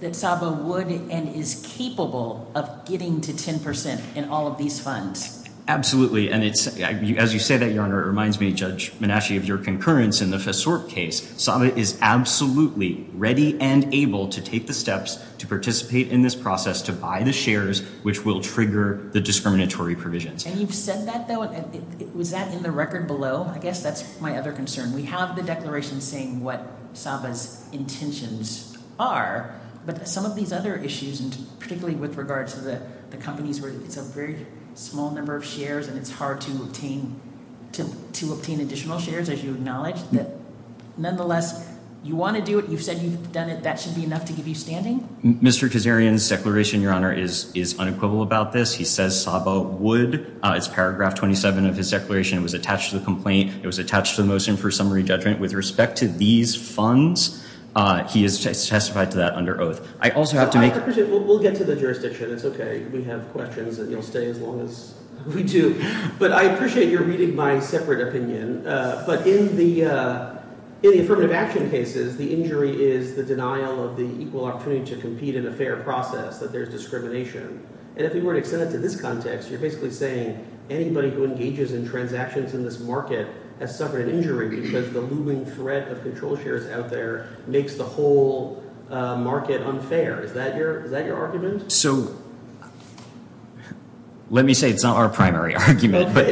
That Saba would and is capable of getting to 10 percent in all of these funds. Absolutely. And as you say that, Your Honor, it reminds me, Judge Menasci, of your concurrence in the FSSRP case. Saba is absolutely ready and able to take the steps to participate in this process, To buy the shares, which will trigger the discriminatory provisions. And you've said that, though. Was that in the record below? I guess that's my other concern. We have the declaration saying what Saba's intentions are. But some of these other issues, particularly with regard to the companies where it's a very small number of shares And it's hard to obtain additional shares, as you acknowledge. Nonetheless, you want to do it. You've said you've done it. That should be enough to give you standing? Mr. Kazarian's declaration, Your Honor, is unequivocal about this. He says Saba would. It's paragraph 27 of his declaration. It was attached to the complaint. It was attached to the motion for summary judgment. With respect to these funds, he has testified to that under oath. I also have to make— We'll get to the jurisdiction. It's okay. We have questions, and you'll stay as long as we do. But I appreciate your reading my separate opinion. But in the affirmative action cases, the injury is the denial of the equal opportunity to compete in a fair process, that there's discrimination. And if you were to extend it to this context, you're basically saying anybody who engages in transactions in this market has suffered an injury because the looming threat of control shares out there makes the whole market unfair. Is that your argument? So let me say it's not our primary argument. But,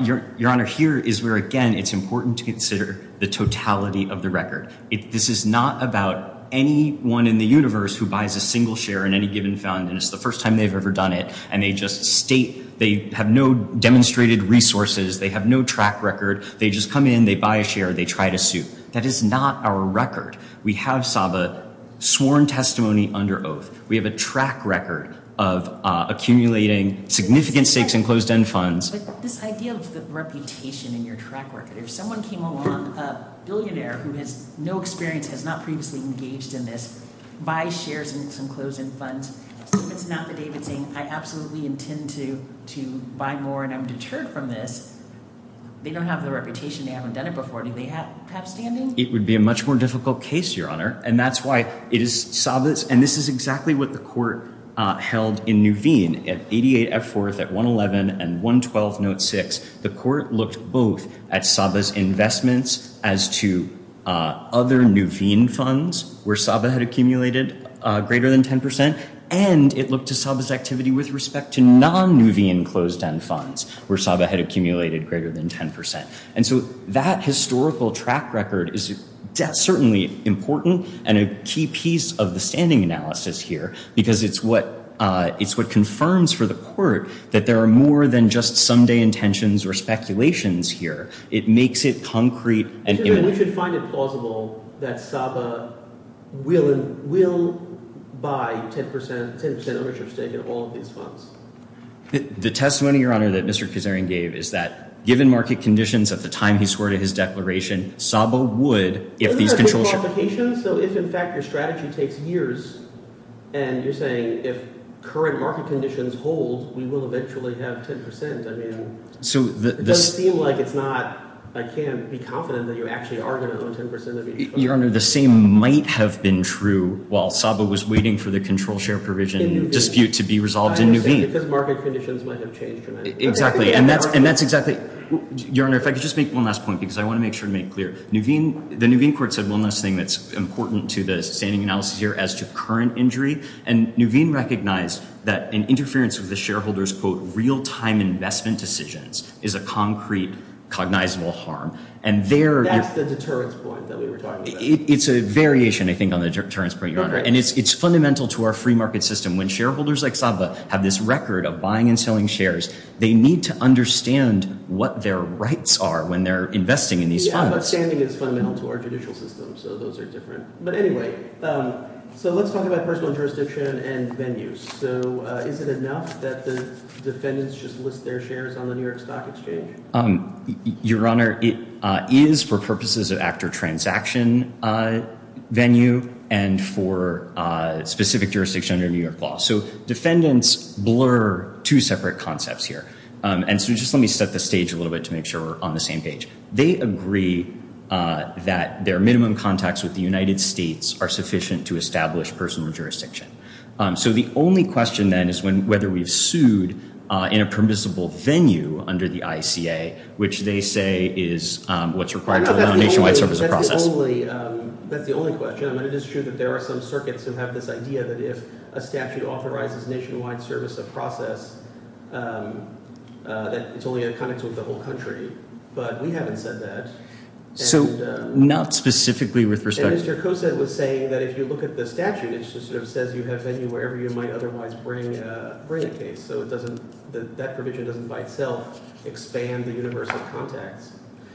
Your Honor, here is where, again, it's important to consider the totality of the record. This is not about anyone in the universe who buys a single share in any given fund, and it's the first time they've ever done it, and they just state they have no demonstrated resources. They have no track record. They just come in. They buy a share. They try to sue. That is not our record. We have Saba sworn testimony under oath. We have a track record of accumulating significant stakes in closed-end funds. But this idea of the reputation in your track record, if someone came along, a billionaire who has no experience, has not previously engaged in this, buys shares in some closed-end funds, so if it's not the David saying, I absolutely intend to buy more and I'm deterred from this, they don't have the reputation, they haven't done it before, do they have standing? It would be a much more difficult case, Your Honor. And that's why it is Saba's. And this is exactly what the court held in Nuveen at 88F4, at 111 and 112 Note 6. The court looked both at Saba's investments as to other Nuveen funds where Saba had accumulated greater than 10 percent, and it looked to Saba's activity with respect to non-Nuveen closed-end funds where Saba had accumulated greater than 10 percent. And so that historical track record is certainly important and a key piece of the standing analysis here because it's what confirms for the court that there are more than just some day intentions or speculations here. It makes it concrete. We should find it plausible that Saba will buy 10 percent ownership stake in all of these funds. The testimony, Your Honor, that Mr. Kuzarian gave is that given market conditions at the time he swore to his declaration, Saba would if these control shares – Isn't that pre-qualification? So if, in fact, your strategy takes years and you're saying if current market conditions hold, we will eventually have 10 percent, I mean, it doesn't seem like it's not – I can't be confident that you actually are going to own 10 percent of these – Your Honor, the same might have been true while Saba was waiting for the control share provision dispute to be resolved in Nuveen. Because market conditions might have changed. Exactly. And that's exactly – Your Honor, if I could just make one last point because I want to make sure to make it clear. The Nuveen court said one last thing that's important to the standing analysis here as to current injury. And Nuveen recognized that an interference with the shareholders' quote real-time investment decisions is a concrete cognizable harm. And there – That's the deterrence point that we were talking about. It's a variation, I think, on the deterrence point, Your Honor. And it's fundamental to our free market system. When shareholders like Saba have this record of buying and selling shares, they need to understand what their rights are when they're investing in these funds. Yeah, but standing is fundamental to our judicial system, so those are different. But anyway, so let's talk about personal jurisdiction and venues. So is it enough that the defendants just list their shares on the New York Stock Exchange? Your Honor, it is for purposes of actor transaction venue and for specific jurisdiction under New York law. So defendants blur two separate concepts here. And so just let me set the stage a little bit to make sure we're on the same page. They agree that their minimum contacts with the United States are sufficient to establish personal jurisdiction. So the only question then is whether we've sued in a permissible venue under the ICA, which they say is what's required to allow nationwide service of process. That's the only question. I mean it is true that there are some circuits who have this idea that if a statute authorizes nationwide service of process, that it's only in context with the whole country. But we haven't said that. So not specifically with respect to – I noticed your coset was saying that if you look at the statute, it just sort of says you have venue wherever you might otherwise bring a case. So it doesn't – that provision doesn't by itself expand the universal context.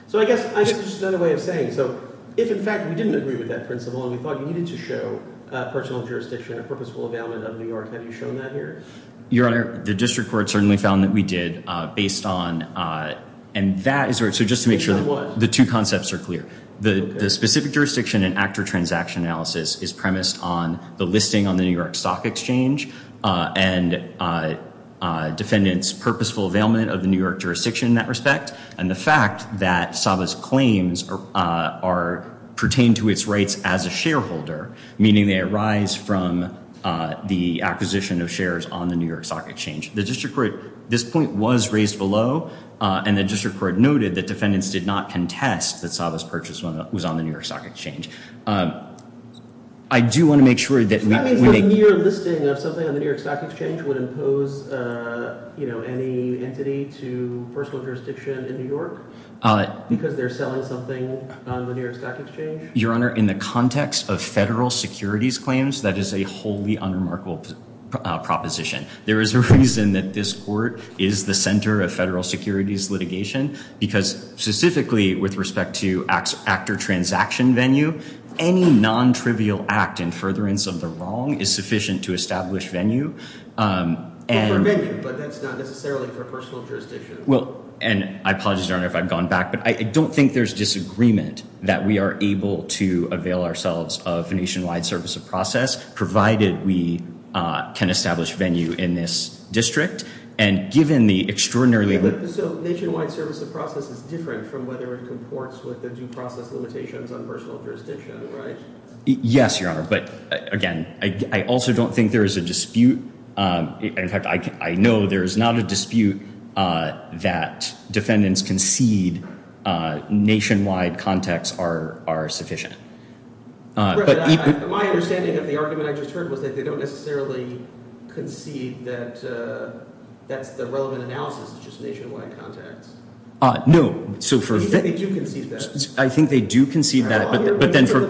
So I guess it's just another way of saying. So if, in fact, we didn't agree with that principle and we thought you needed to show personal jurisdiction or purposeful availment of New York, have you shown that here? Your Honor, the district court certainly found that we did based on – and that is – so just to make sure the two concepts are clear. The specific jurisdiction and actor transaction analysis is premised on the listing on the New York Stock Exchange and defendants' purposeful availment of the New York jurisdiction in that respect. And the fact that Sava's claims are – pertain to its rights as a shareholder, meaning they arise from the acquisition of shares on the New York Stock Exchange. The district court – this point was raised below, and the district court noted that defendants did not contest that Sava's purchase was on the New York Stock Exchange. I do want to make sure that we make – That means the mere listing of something on the New York Stock Exchange would impose any entity to personal jurisdiction in New York because they're selling something on the New York Stock Exchange? Your Honor, in the context of federal securities claims, that is a wholly unremarkable proposition. There is a reason that this court is the center of federal securities litigation because specifically with respect to actor transaction venue, any nontrivial act in furtherance of the wrong is sufficient to establish venue. But for venue, but that's not necessarily for personal jurisdiction. I apologize, Your Honor, if I've gone back, but I don't think there's disagreement that we are able to avail ourselves of nationwide service of process, provided we can establish venue in this district. And given the extraordinarily – So nationwide service of process is different from whether it comports with the due process limitations on personal jurisdiction, right? Yes, Your Honor, but again, I also don't think there is a dispute. In fact, I know there is not a dispute that defendants concede nationwide contacts are sufficient. My understanding of the argument I just heard was that they don't necessarily concede that that's the relevant analysis, just nationwide contacts. No. I think they do concede that. But then for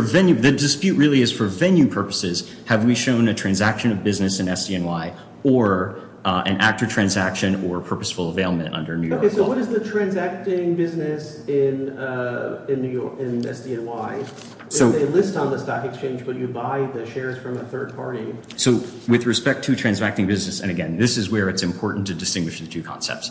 venue, the dispute really is for venue purposes. Have we shown a transaction of business in SDNY or an actor transaction or purposeful availment under New York law? Okay, so what is the transacting business in SDNY? If they list on the stock exchange, will you buy the shares from a third party? So with respect to transacting business, and again, this is where it's important to distinguish the two concepts.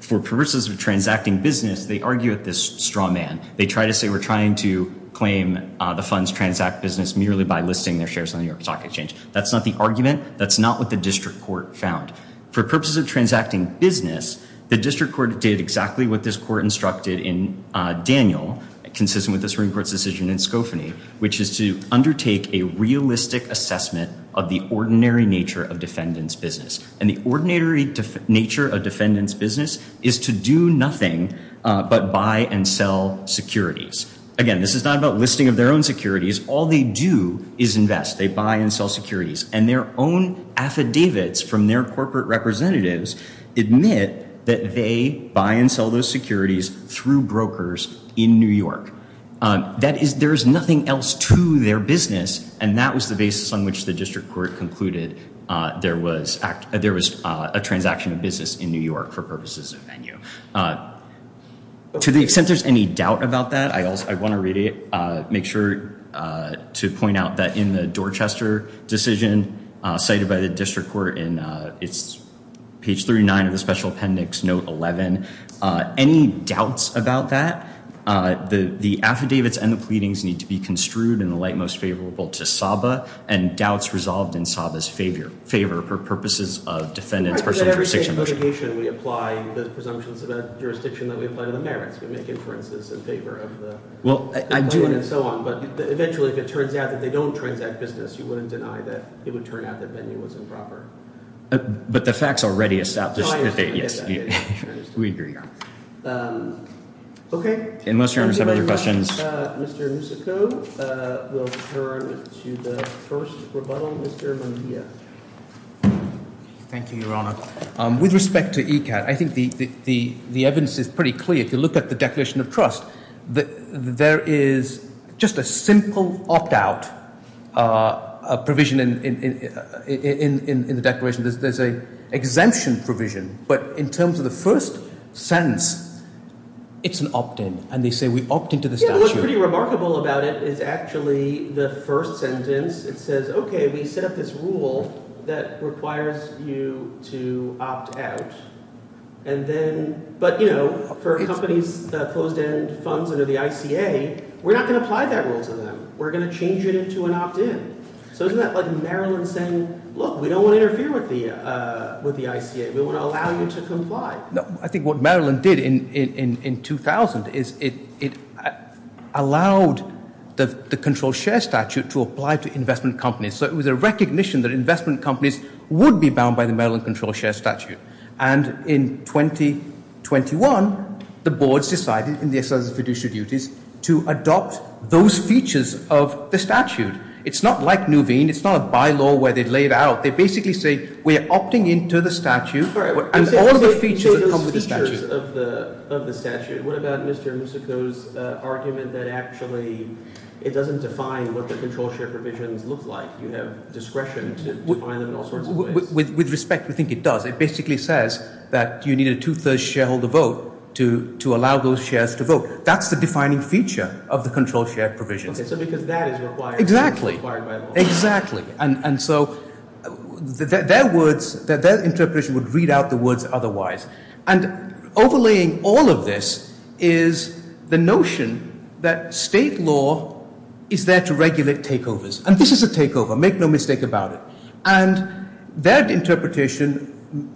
For purposes of transacting business, they argue at this straw man. They try to say we're trying to claim the funds transact business merely by listing their shares on the New York Stock Exchange. That's not the argument. That's not what the district court found. For purposes of transacting business, the district court did exactly what this court instructed in Daniel, consistent with the Supreme Court's decision in Skofany, which is to undertake a realistic assessment of the ordinary nature of defendant's business. And the ordinary nature of defendant's business is to do nothing but buy and sell securities. Again, this is not about listing of their own securities. All they do is invest. They buy and sell securities and their own affidavits from their corporate representatives admit that they buy and sell those securities through brokers in New York. That is, there is nothing else to their business. And that was the basis on which the district court concluded there was a transaction of business in New York for purposes of venue. To the extent there's any doubt about that, I want to really make sure to point out that in the Dorchester decision cited by the district court, page 39 of the special appendix, note 11, any doubts about that? The affidavits and the pleadings need to be construed in the light most favorable to Saba and doubts resolved in Saba's favor for purposes of defendant's personal jurisdiction. We apply the presumptions of that jurisdiction that we apply to the merits. We make inferences in favor of the claimant and so on. But eventually, if it turns out that they don't transact business, you wouldn't deny that it would turn out that venue was improper. But the facts already establish that. Yes, we agree. Okay. Unless you have other questions. Mr. Musico, we'll turn to the first rebuttal. Mr. Mejia. Thank you, Your Honor. With respect to ECAT, I think the evidence is pretty clear. If you look at the Declaration of Trust, there is just a simple opt-out provision in the declaration. There's an exemption provision. But in terms of the first sentence, it's an opt-in, and they say we opt into the statute. What's pretty remarkable about it is actually the first sentence. It says, okay, we set up this rule that requires you to opt out. And then – but for companies' closed-end funds under the ICA, we're not going to apply that rule to them. We're going to change it into an opt-in. So isn't that like Maryland saying, look, we don't want to interfere with the ICA. We want to allow you to comply. I think what Maryland did in 2000 is it allowed the control share statute to apply to investment companies. So it was a recognition that investment companies would be bound by the Maryland control share statute. And in 2021, the boards decided in the exercise of fiduciary duties to adopt those features of the statute. It's not like Nuveen. It's not a bylaw where they lay it out. They basically say we are opting into the statute and all the features that come with the statute. What about Mr. Musico's argument that actually it doesn't define what the control share provisions look like? You have discretion to define them in all sorts of ways. With respect, we think it does. It basically says that you need a two-thirds shareholder vote to allow those shares to vote. That's the defining feature of the control share provisions. Okay, so because that is required by the law. Exactly. And so their words, their interpretation would read out the words otherwise. And overlaying all of this is the notion that state law is there to regulate takeovers. And this is a takeover. Make no mistake about it. And their interpretation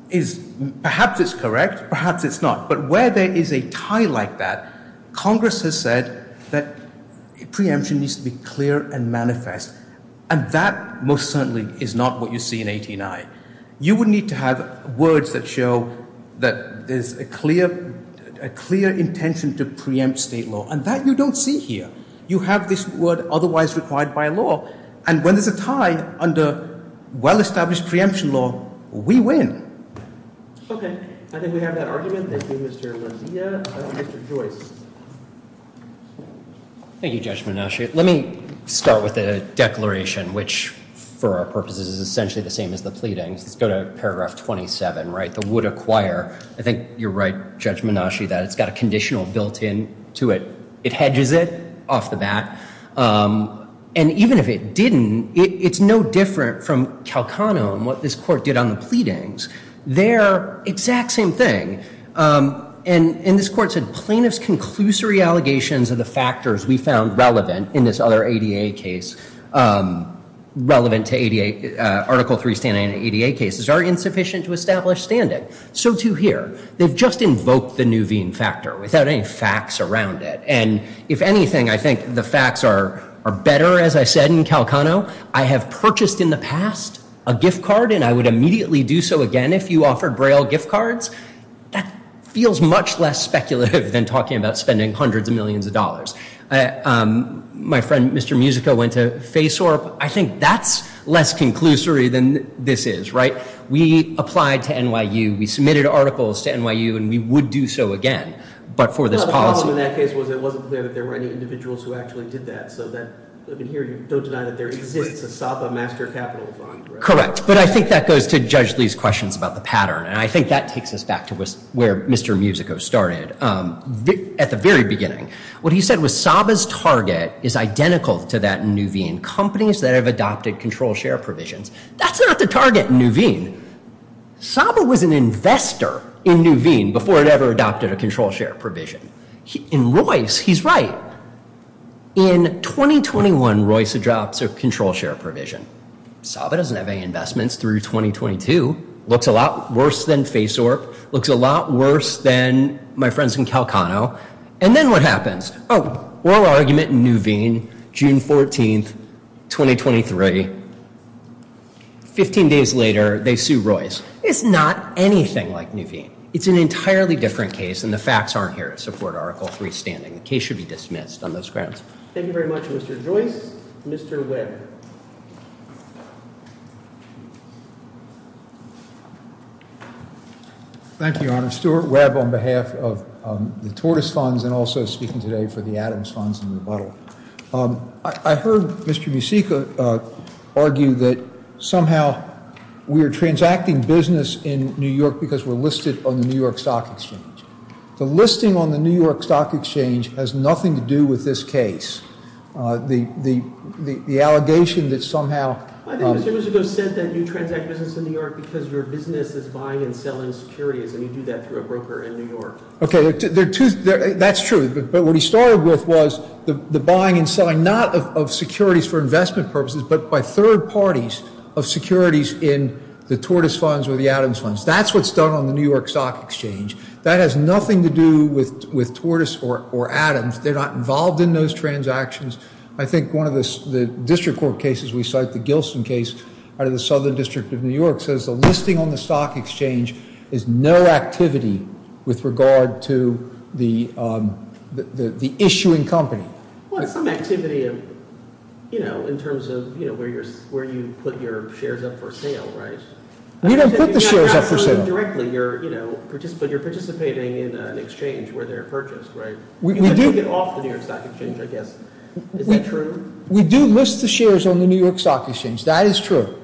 is perhaps it's correct, perhaps it's not. But where there is a tie like that, Congress has said that preemption needs to be clear and manifest. And that most certainly is not what you see in 18I. You would need to have words that show that there's a clear intention to preempt state law. And that you don't see here. You have this word otherwise required by law. And when there's a tie under well-established preemption law, we win. Okay. I think we have that argument. Thank you, Mr. Lucia. Mr. Joyce. Thank you, Judge Monash. Let me start with a declaration, which for our purposes is essentially the same as the pleadings. Let's go to paragraph 27, right, the would acquire. I think you're right, Judge Monash, that it's got a conditional built into it. It hedges it off the bat. And even if it didn't, it's no different from Calcanum, what this court did on the pleadings. They're exact same thing. And this court said plaintiff's conclusory allegations of the factors we found relevant in this other ADA case, relevant to Article III standing in ADA cases, are insufficient to establish standing. So, too, here. They've just invoked the Nuveen factor without any facts around it. And if anything, I think the facts are better, as I said, in Calcanum. I have purchased in the past a gift card. And I would immediately do so again if you offered Braille gift cards. That feels much less speculative than talking about spending hundreds of millions of dollars. My friend, Mr. Musica, went to Faceorp. I think that's less conclusory than this is, right? We applied to NYU. We submitted articles to NYU. And we would do so again, but for this policy. The problem in that case was it wasn't clear that there were any individuals who actually did that. Here, you don't deny that there exists a SABA master capital fund, correct? Correct. But I think that goes to Judge Lee's questions about the pattern. And I think that takes us back to where Mr. Musica started at the very beginning. What he said was SABA's target is identical to that in Nuveen. Companies that have adopted control share provisions. That's not the target in Nuveen. SABA was an investor in Nuveen before it ever adopted a control share provision. In Royce, he's right. In 2021, Royce adopts a control share provision. SABA doesn't have any investments through 2022. Looks a lot worse than Faceorp. Looks a lot worse than my friends in Calcano. And then what happens? Oh, oral argument in Nuveen, June 14, 2023. Fifteen days later, they sue Royce. It's not anything like Nuveen. It's an entirely different case. And the facts aren't here to support Article 3 standing. The case should be dismissed on those grounds. Thank you very much, Mr. Joyce. Mr. Webb. Thank you, Your Honor. Stuart Webb on behalf of the Tortoise Funds and also speaking today for the Adams Funds and Rebuttal. I heard Mr. Musica argue that somehow we are transacting business in New York because we're listed on the New York Stock Exchange. The listing on the New York Stock Exchange has nothing to do with this case. The allegation that somehow- I think Mr. Musica said that you transact business in New York because your business is buying and selling securities. And you do that through a broker in New York. Okay, that's true. But what he started with was the buying and selling, not of securities for investment purposes, but by third parties of securities in the Tortoise Funds or the Adams Funds. That's what's done on the New York Stock Exchange. That has nothing to do with Tortoise or Adams. They're not involved in those transactions. I think one of the district court cases we cite, the Gilson case out of the Southern District of New York, says the listing on the Stock Exchange is no activity with regard to the issuing company. Well, it's some activity in terms of where you put your shares up for sale, right? We don't put the shares up for sale. You're participating in an exchange where they're purchased, right? We do- You can take it off the New York Stock Exchange, I guess. Is that true? We do list the shares on the New York Stock Exchange. That is true.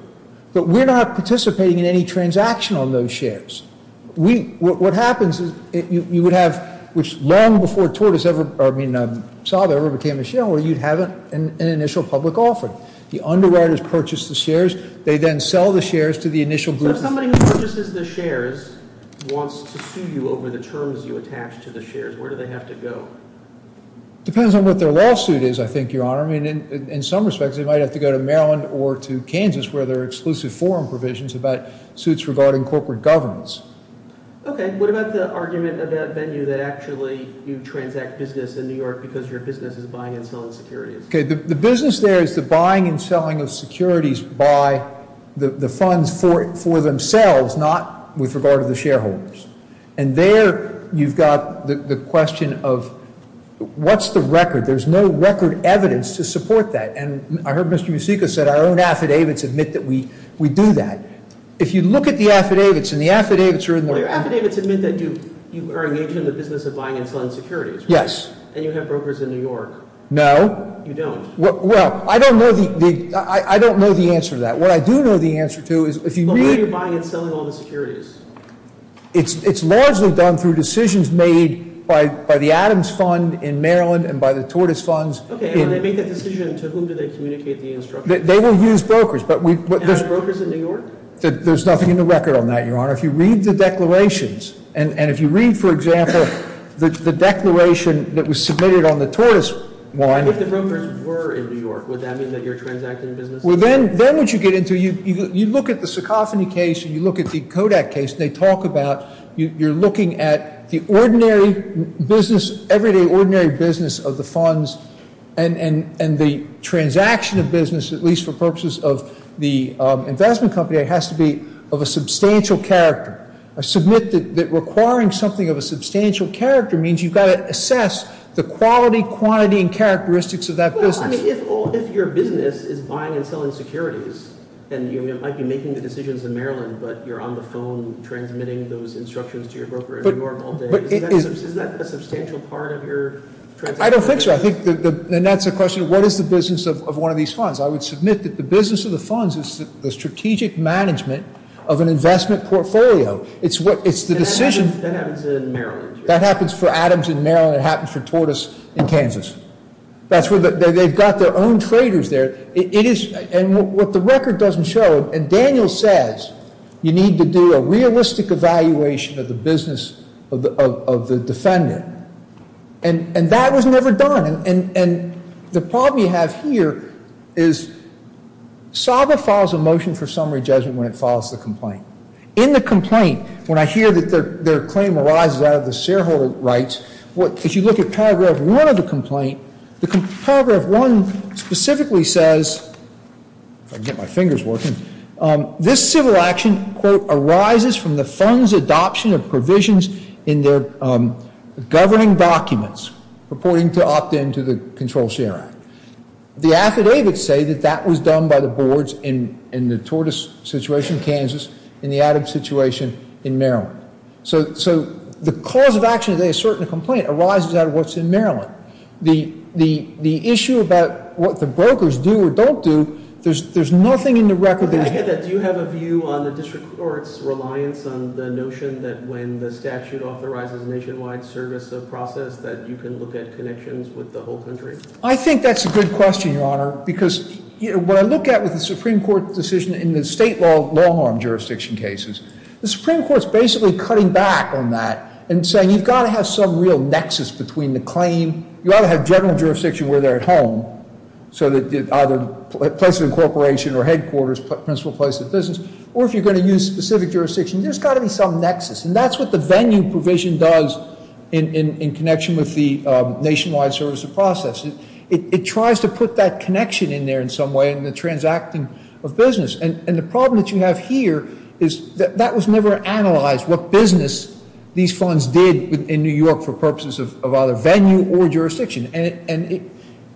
But we're not participating in any transaction on those shares. What happens is you would have, which long before Tortoise ever- I mean, I saw they ever became a shareholder, you'd have an initial public offering. The underwriters purchase the shares. They then sell the shares to the initial group- So if somebody who purchases the shares wants to sue you over the terms you attach to the shares, where do they have to go? It depends on what their lawsuit is, I think, Your Honor. I mean, in some respects, they might have to go to Maryland or to Kansas, where there are exclusive forum provisions about suits regarding corporate governments. Okay. What about the argument of that venue that actually you transact business in New York because your business is buying and selling securities? Okay. The business there is the buying and selling of securities by the funds for themselves, not with regard to the shareholders. And there you've got the question of what's the record? There's no record evidence to support that. And I heard Mr. Musica said our own affidavits admit that we do that. If you look at the affidavits, and the affidavits are in the- Well, your affidavits admit that you are engaged in the business of buying and selling securities, right? Yes. And you have brokers in New York. No. You don't. Well, I don't know the answer to that. What I do know the answer to is if you read- But why are you buying and selling all the securities? It's largely done through decisions made by the Adams Fund in Maryland and by the Tortoise Funds. Okay. And when they make that decision, to whom do they communicate the instructions? They will use brokers, but we- And are there brokers in New York? There's nothing in the record on that, Your Honor. If you read the declarations, and if you read, for example, the declaration that was submitted on the Tortoise one- If the brokers were in New York, would that mean that you're transacting in business? Well, then what you get into, you look at the Sacophony case, and you look at the Kodak case, and they talk about you're looking at the ordinary business, everyday ordinary business of the funds, and the transaction of business, at least for purposes of the investment company, has to be of a substantial character. I submit that requiring something of a substantial character means you've got to assess the quality, quantity, and characteristics of that business. Well, I mean, if your business is buying and selling securities, and you might be making the decisions in Maryland, but you're on the phone transmitting those instructions to your broker in New York all day, isn't that a substantial part of your transaction? I don't think so. And that's the question, what is the business of one of these funds? I would submit that the business of the funds is the strategic management of an investment portfolio. It's the decision- That happens in Maryland. That happens for Adams in Maryland. It happens for Tortoise in Kansas. They've got their own traders there. And what the record doesn't show, and Daniel says, you need to do a realistic evaluation of the business of the defendant. And that was never done. And the problem you have here is SABA files a motion for summary judgment when it files the complaint. In the complaint, when I hear that their claim arises out of the shareholder rights, as you look at paragraph one of the complaint, paragraph one specifically says, if I can get my fingers working, this civil action, quote, arises from the fund's adoption of provisions in their governing documents, purporting to opt-in to the Control Share Act. The affidavits say that that was done by the boards in the Tortoise situation in Kansas and the Adams situation in Maryland. So the cause of action, they assert in the complaint, arises out of what's in Maryland. The issue about what the brokers do or don't do, there's nothing in the record that you can do. Do you have a view on the district court's reliance on the notion that when the statute authorizes nationwide service of process, that you can look at connections with the whole country? I think that's a good question, Your Honor, because what I look at with the Supreme Court decision in the state long-arm jurisdiction cases, the Supreme Court's basically cutting back on that and saying, you've got to have some real nexus between the claim, you ought to have general jurisdiction where they're at home, so that either the place of incorporation or headquarters, principal place of business, or if you're going to use specific jurisdiction, there's got to be some nexus. And that's what the venue provision does in connection with the nationwide service of process. It tries to put that connection in there in some way in the transacting of business. And the problem that you have here is that that was never analyzed, what business these funds did in New York for purposes of either venue or jurisdiction. And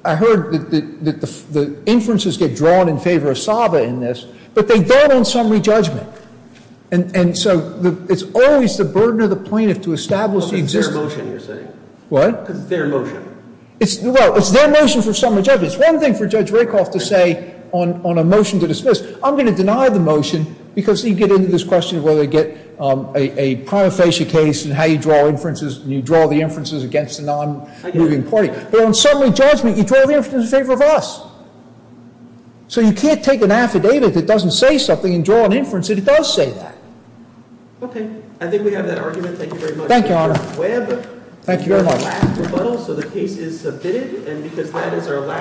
I heard that the inferences get drawn in favor of SABA in this, but they don't on summary judgment. And so it's always the burden of the plaintiff to establish the existence. It's their motion, you're saying. What? Because it's their motion. Well, it's their motion for summary judgment. It's one thing for Judge Rakoff to say on a motion to dismiss. I'm going to deny the motion because you get into this question of whether to get a prima facie case and how you draw inferences and you draw the inferences against a non-moving party. But on summary judgment, you draw the inferences in favor of us. So you can't take an affidavit that doesn't say something and draw an inference that does say that. Okay. I think we have that argument. Thank you very much. Thank you, Your Honor. Thank you very much. This is our last rebuttal, so the case is submitted. And because that is our last—